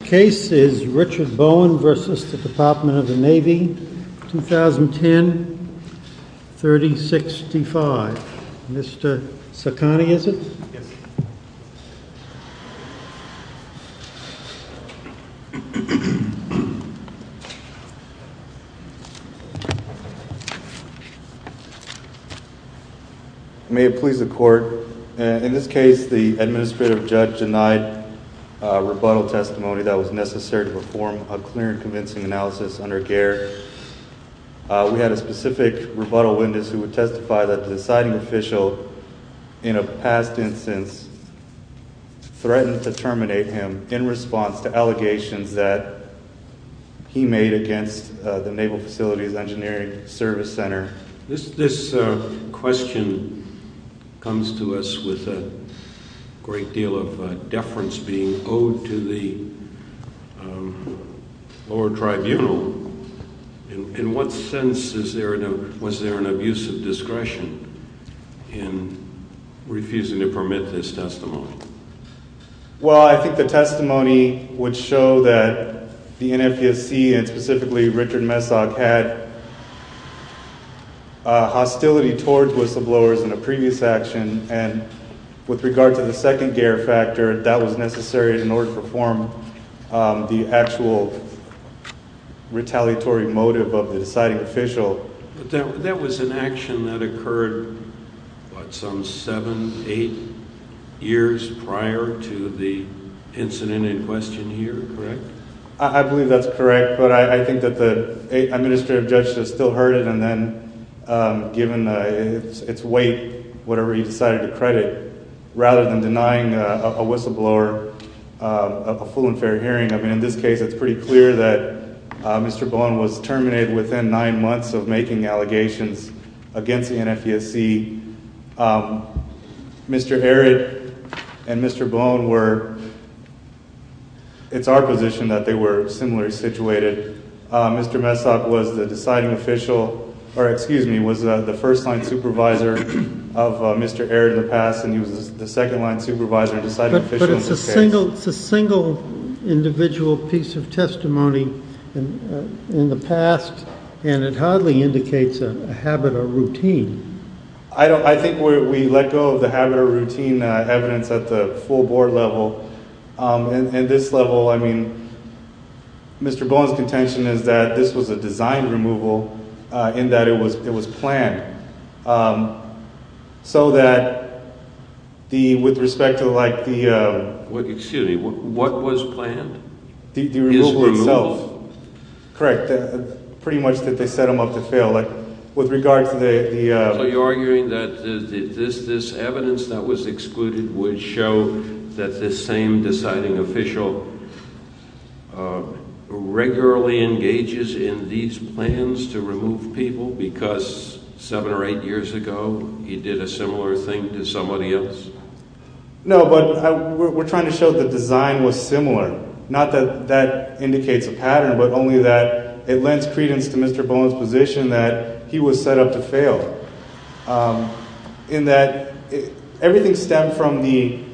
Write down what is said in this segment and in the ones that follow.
The case is Richard Bowen v. Department of the Navy, 2010, 3065. Mr. Sacani, is it? Yes. May it please the court, in this case the administrative judge denied rebuttal testimony that was necessary to perform a clear and convincing analysis under GARE. We had a specific rebuttal witness who would testify that the deciding official, in a past instance, threatened to terminate him in response to allegations that he made against the Naval Facilities Engineering Service Center. This question comes to us with a great deal of deference being owed to the lower tribunal. In what sense was there an abuse of discretion in refusing to permit this testimony? Well, I think the testimony would show that the NFPSC, and specifically Richard Messock, had hostility toward whistleblowers in a previous action, and with regard to the second GARE factor, that was necessary in order to perform the actual retaliatory motive of the deciding official. But that was an action that occurred, what, some seven, eight years prior to the incident in question here, correct? But it's a single, it's a single individual piece of testimony in the past. And it hardly indicates a habit or routine. I don't, I think we let go of the habit or routine evidence at the full board level. And this level, I mean, Mr. Bowen's contention is that this was a design removal, in that it was planned. So that the, with respect to like the... Excuse me, what was planned? The removal itself. Correct. Pretty much that they set them up to fail. Like, with regard to the... So you're arguing that this evidence that was excluded would show that this same deciding official regularly engages in these plans to remove people because seven or eight years ago he did a similar thing to somebody else? No, but we're trying to show that the design was similar. Not that that indicates a pattern, but only that it lends credence to Mr. Bowen's position that he was set up to fail. In that everything stemmed from the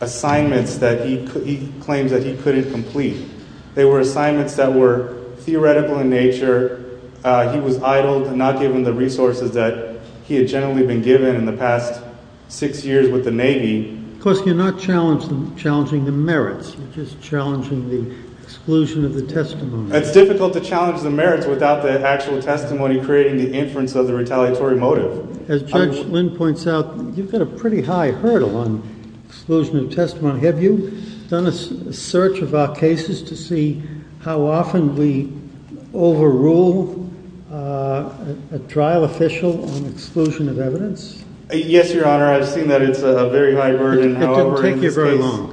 assignments that he claims that he couldn't complete. They were assignments that were theoretical in nature. He was idled, not given the resources that he had generally been given in the past six years with the Navy. Of course, you're not challenging the merits. You're just challenging the exclusion of the testimony. It's difficult to challenge the merits without the actual testimony creating the inference of the retaliatory motive. As Judge Lynn points out, you've got a pretty high hurdle on exclusion of testimony. Have you done a search of our cases to see how often we overrule a trial official on exclusion of evidence? Yes, Your Honor. I've seen that it's a very high burden. It didn't take you very long.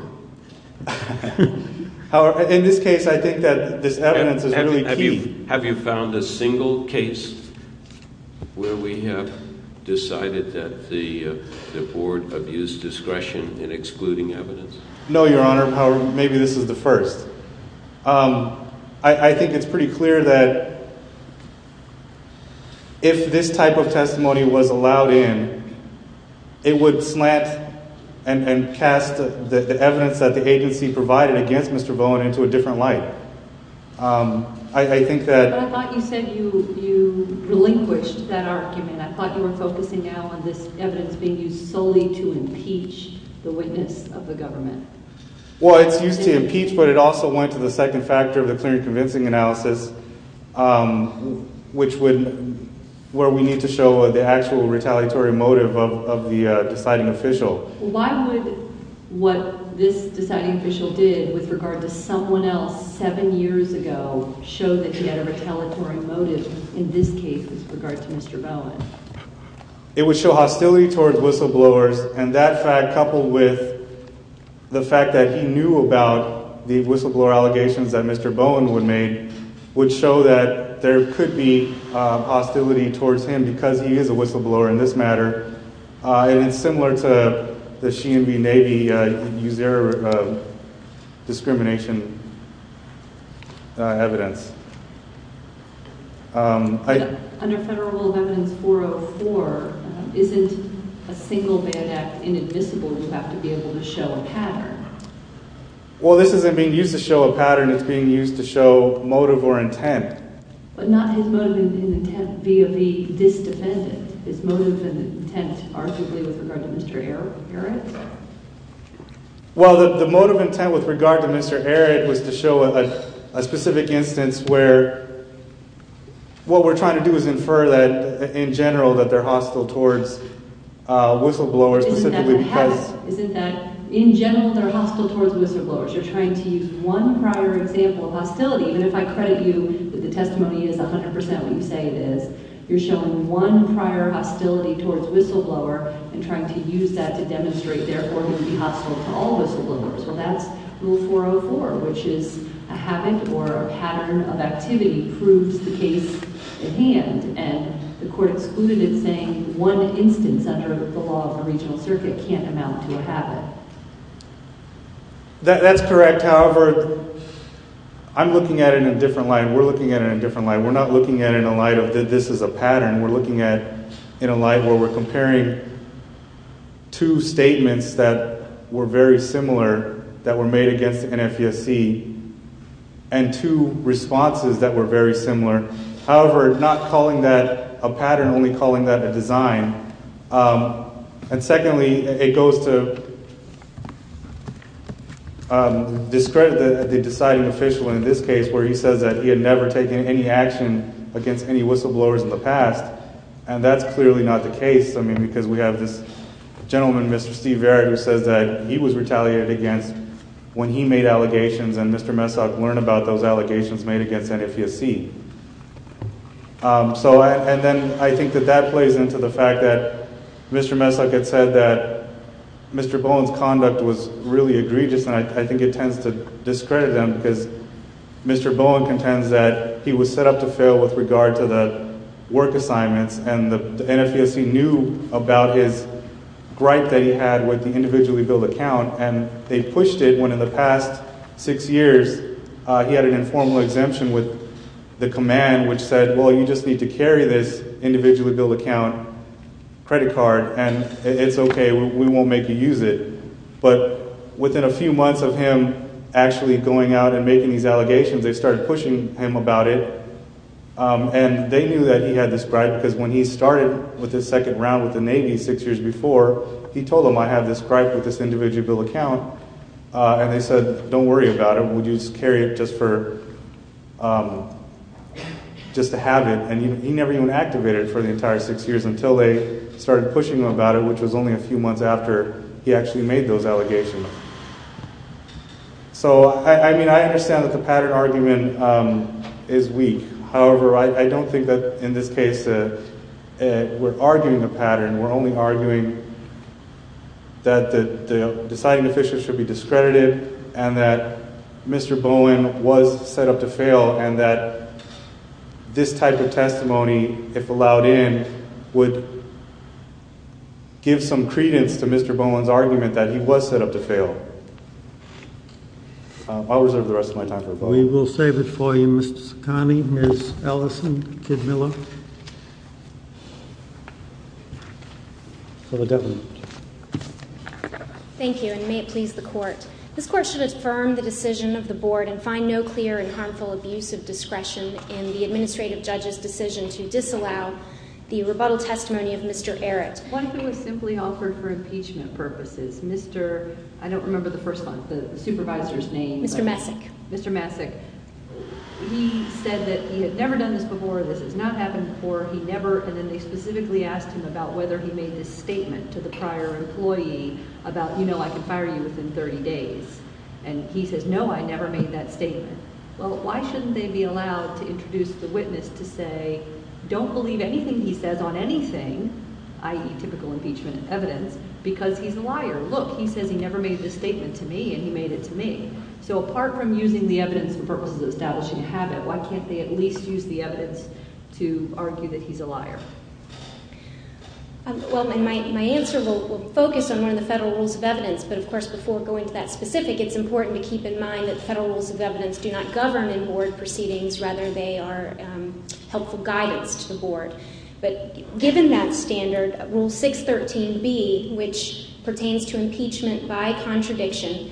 In this case, I think that this evidence is really key. Have you found a single case where we have decided that the Board abused discretion in excluding evidence? No, Your Honor. Maybe this is the first. I think it's pretty clear that if this type of testimony was allowed in, it would slant and cast the evidence that the agency provided against Mr. Bowen into a different light. But I thought you said you relinquished that argument. I thought you were focusing now on this evidence being used solely to impeach the witness of the government. Well, it's used to impeach, but it also went to the second factor of the clear and convincing analysis, where we need to show the actual retaliatory motive of the deciding official. Why would what this deciding official did with regard to someone else seven years ago show that he had a retaliatory motive in this case with regard to Mr. Bowen? It would show hostility towards whistleblowers, and that fact coupled with the fact that he knew about the whistleblower allegations that Mr. Bowen would make would show that there could be hostility towards him because he is a whistleblower in this matter. And it's similar to the She and Me Navy use their discrimination evidence. Under Federal Rule of Evidence 404, isn't a single bad act inadmissible? You have to be able to show a pattern. Well, this isn't being used to show a pattern. It's being used to show motive or intent. But not his motive and intent via the dis-defendant, his motive and intent arguably with regard to Mr. Arad? Well, the motive intent with regard to Mr. Arad was to show a specific instance where what we're trying to do is infer that in general that they're hostile towards whistleblowers specifically because… The testimony is 100% what you say it is. You're showing one prior hostility towards a whistleblower and trying to use that to demonstrate they're organically hostile to all whistleblowers. Well, that's Rule 404, which is a habit or a pattern of activity proves the case at hand. And the Court excluded it saying one instance under the law of the Regional Circuit can't amount to a habit. That's correct. However, I'm looking at it in a different light and we're looking at it in a different light. We're not looking at it in a light of this is a pattern. We're looking at it in a light where we're comparing two statements that were very similar that were made against NFUSC and two responses that were very similar. However, not calling that a pattern, only calling that a design. And secondly, it goes to discredit the deciding official in this case where he says that he had never taken any action against any whistleblowers in the past. And that's clearly not the case, I mean, because we have this gentleman, Mr. Steve Varek, who says that he was retaliated against when he made allegations and Mr. Messock learned about those allegations made against NFUSC. So, and then I think that that plays into the fact that Mr. Messock had said that Mr. Bowen's conduct was really egregious and I think it tends to discredit them because Mr. Bowen contends that he was set up to fail with regard to the work assignments. And NFUSC knew about his gripe that he had with the individually billed account and they pushed it when in the past six years he had an informal exemption with the command which said, well, you just need to carry this individually billed account credit card and it's okay, we won't make you use it. But within a few months of him actually going out and making these allegations, they started pushing him about it and they knew that he had this gripe because when he started with his second round with the Navy six years before, he told them I have this gripe with this individually billed account and they said, don't worry about it, we'll just carry it just to have it. And he never even activated it for the entire six years until they started pushing him about it, which was only a few months after he actually made those allegations. So, I mean, I understand that the pattern argument is weak, however, I don't think that in this case we're arguing a pattern. We're only arguing that the deciding official should be discredited and that Mr. Bowen was set up to fail and that this type of testimony, if allowed in, would give some credence to Mr. Bowen's argument that he was set up to fail. I'll reserve the rest of my time for a vote. We will save it for you, Mr. Saccone, Ms. Ellison, Kidmiller. For the government. Thank you and may it please the court. This court should affirm the decision of the board and find no clear and harmful abuse of discretion in the administrative judge's decision to disallow the rebuttal testimony of Mr. Errett. One thing was simply offered for impeachment purposes. Mr., I don't remember the first one, the supervisor's name. Mr. Messick. Mr. Messick. He said that he had never done this before, this has not happened before, he never, and then they specifically asked him about whether he made this statement to the prior employee about, you know, I can fire you within 30 days. And he says, no, I never made that statement. Well, why shouldn't they be allowed to introduce the witness to say, don't believe anything he says on anything, i.e. typical impeachment evidence, because he's a liar. Look, he says he never made this statement to me and he made it to me. So apart from using the evidence for purposes of establishing a habit, why can't they at least use the evidence to argue that he's a liar? Well, my answer will focus on one of the federal rules of evidence. But of course, before going to that specific, it's important to keep in mind that federal rules of evidence do not govern in board proceedings. Rather, they are helpful guidance to the board. But given that standard, Rule 613B, which pertains to impeachment by contradiction,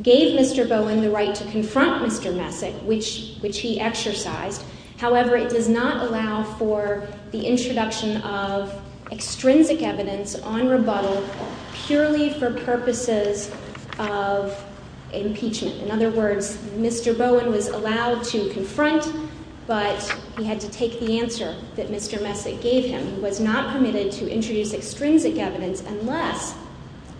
gave Mr. Bowen the right to confront Mr. Messick, which he exercised. However, it does not allow for the introduction of extrinsic evidence on rebuttal purely for purposes of impeachment. In other words, Mr. Bowen was allowed to confront, but he had to take the answer that Mr. Messick gave him. He was not permitted to introduce extrinsic evidence unless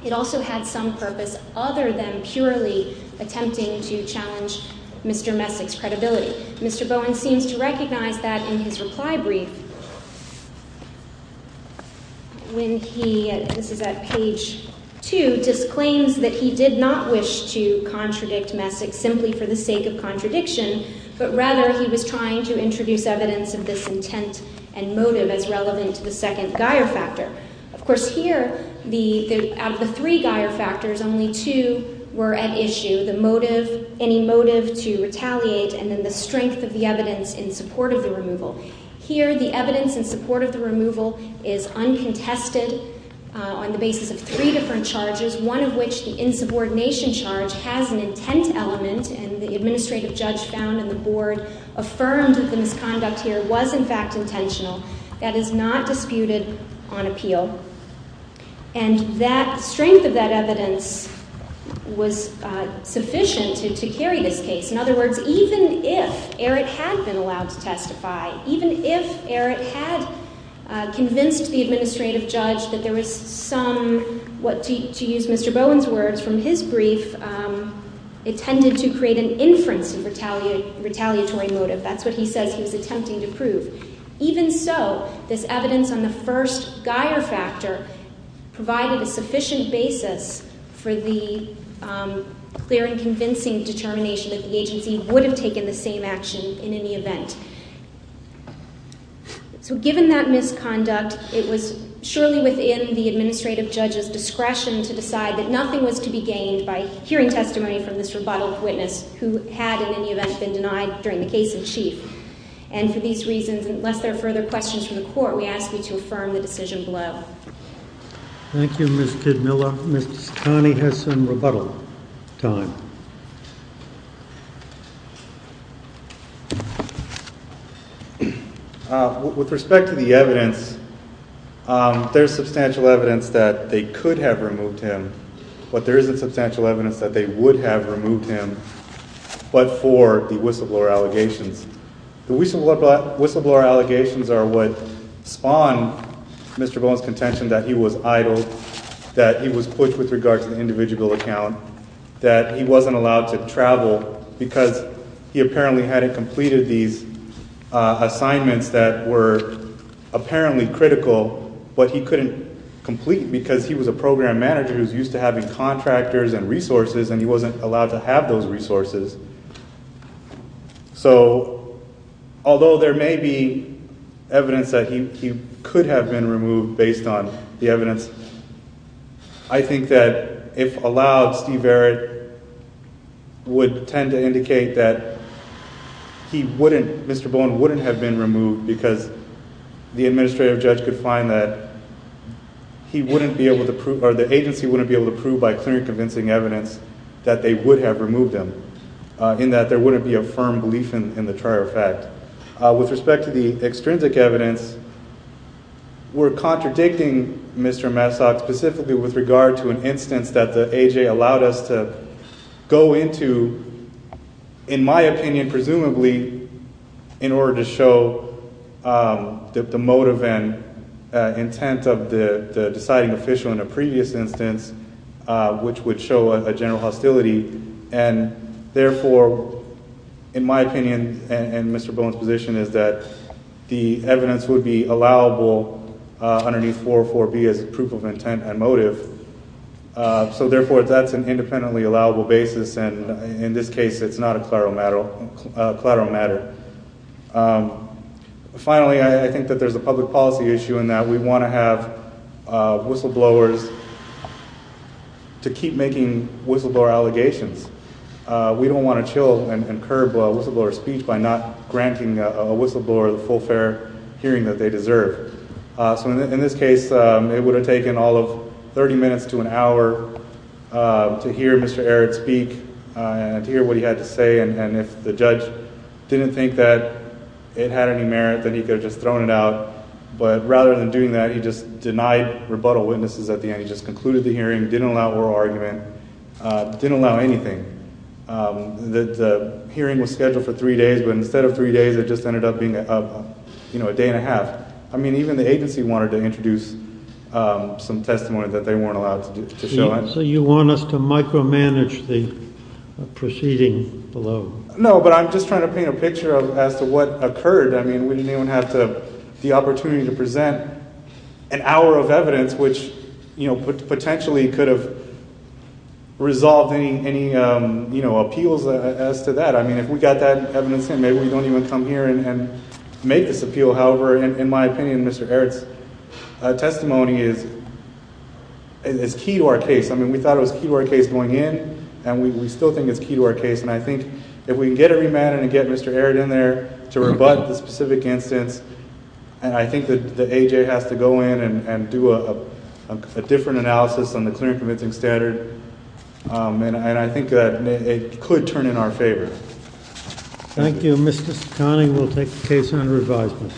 it also had some purpose other than purely attempting to challenge Mr. Messick's credibility. Mr. Bowen seems to recognize that in his reply brief when he, this is at page 2, disclaims that he did not wish to contradict Messick simply for the sake of contradiction. But rather, he was trying to introduce evidence of this intent and motive as relevant to the second Geier factor. Of course, here, out of the three Geier factors, only two were at issue, the motive, any motive to retaliate, and then the strength of the evidence in support of the removal. Here, the evidence in support of the removal is uncontested on the basis of three different charges, one of which the insubordination charge has an intent element, and the administrative judge found in the board affirmed that the misconduct here was, in fact, intentional. That is not disputed on appeal. And that strength of that evidence was sufficient to carry this case. In other words, even if Eric had been allowed to testify, even if Eric had convinced the administrative judge that there was some, to use Mr. Bowen's words from his brief, intended to create an inference of retaliatory motive. That's what he says he was attempting to prove. Even so, this evidence on the first Geier factor provided a sufficient basis for the clear and convincing determination that the agency would have taken the same action in any event. So given that misconduct, it was surely within the administrative judge's discretion to decide that nothing was to be gained by hearing testimony from this rebuttal witness who had, in any event, been denied during the case in chief. And for these reasons, unless there are further questions from the court, we ask you to affirm the decision below. Thank you, Ms. Kidmiller. Ms. Taney has some rebuttal time. With respect to the evidence, there's substantial evidence that they could have removed him, but there isn't substantial evidence that they would have removed him but for the whistleblower allegations. The whistleblower allegations are what spawned Mr. Bowen's contention that he was idle, that he was pushed with regard to the individual account, that he wasn't allowed to travel because he apparently hadn't completed these assignments that were apparently critical but he couldn't complete because he was a program manager who was used to having contractors and resources and he wasn't allowed to have those resources. So although there may be evidence that he could have been removed based on the evidence, I think that if allowed, Steve Verritt would tend to indicate that he wouldn't, Mr. Bowen wouldn't have been removed because the administrative judge could find that he wouldn't be able to prove or the agency wouldn't be able to prove by clearly convincing evidence that they would have removed him. In that there wouldn't be a firm belief in the trial fact. With respect to the extrinsic evidence, we're contradicting Mr. Massach specifically with regard to an instance that the AJ allowed us to go into, in my opinion presumably, in order to show the motive and intent of the deciding official in a previous instance which would show a general hostility. And therefore, in my opinion and Mr. Bowen's position is that the evidence would be allowable underneath 404B as a proof of intent and motive. So therefore that's an independently allowable basis and in this case it's not a collateral matter. Finally, I think that there's a public policy issue in that we want to have whistleblowers to keep making whistleblower allegations. We don't want to chill and curb whistleblower speech by not granting a whistleblower the full fair hearing that they deserve. So in this case it would have taken all of 30 minutes to an hour to hear Mr. Aratt speak and to hear what he had to say and if the judge didn't think that it had any merit then he could have just thrown it out. But rather than doing that he just denied rebuttal witnesses at the end. He just concluded the hearing, didn't allow oral argument, didn't allow anything. The hearing was scheduled for three days but instead of three days it just ended up being a day and a half. I mean even the agency wanted to introduce some testimony that they weren't allowed to show. So you want us to micromanage the proceeding below? No, but I'm just trying to paint a picture as to what occurred. I mean we didn't even have the opportunity to present an hour of evidence which potentially could have resolved any appeals as to that. I mean if we got that evidence in maybe we don't even come here and make this appeal. However, in my opinion Mr. Aratt's testimony is key to our case. I mean we thought it was key to our case going in and we still think it's key to our case. And I think if we can get a remand and get Mr. Aratt in there to rebut the specific instance and I think the AJ has to go in and do a different analysis on the clear and convincing standard. And I think that it could turn in our favor. Thank you. Mr. Connie will take the case under advisement.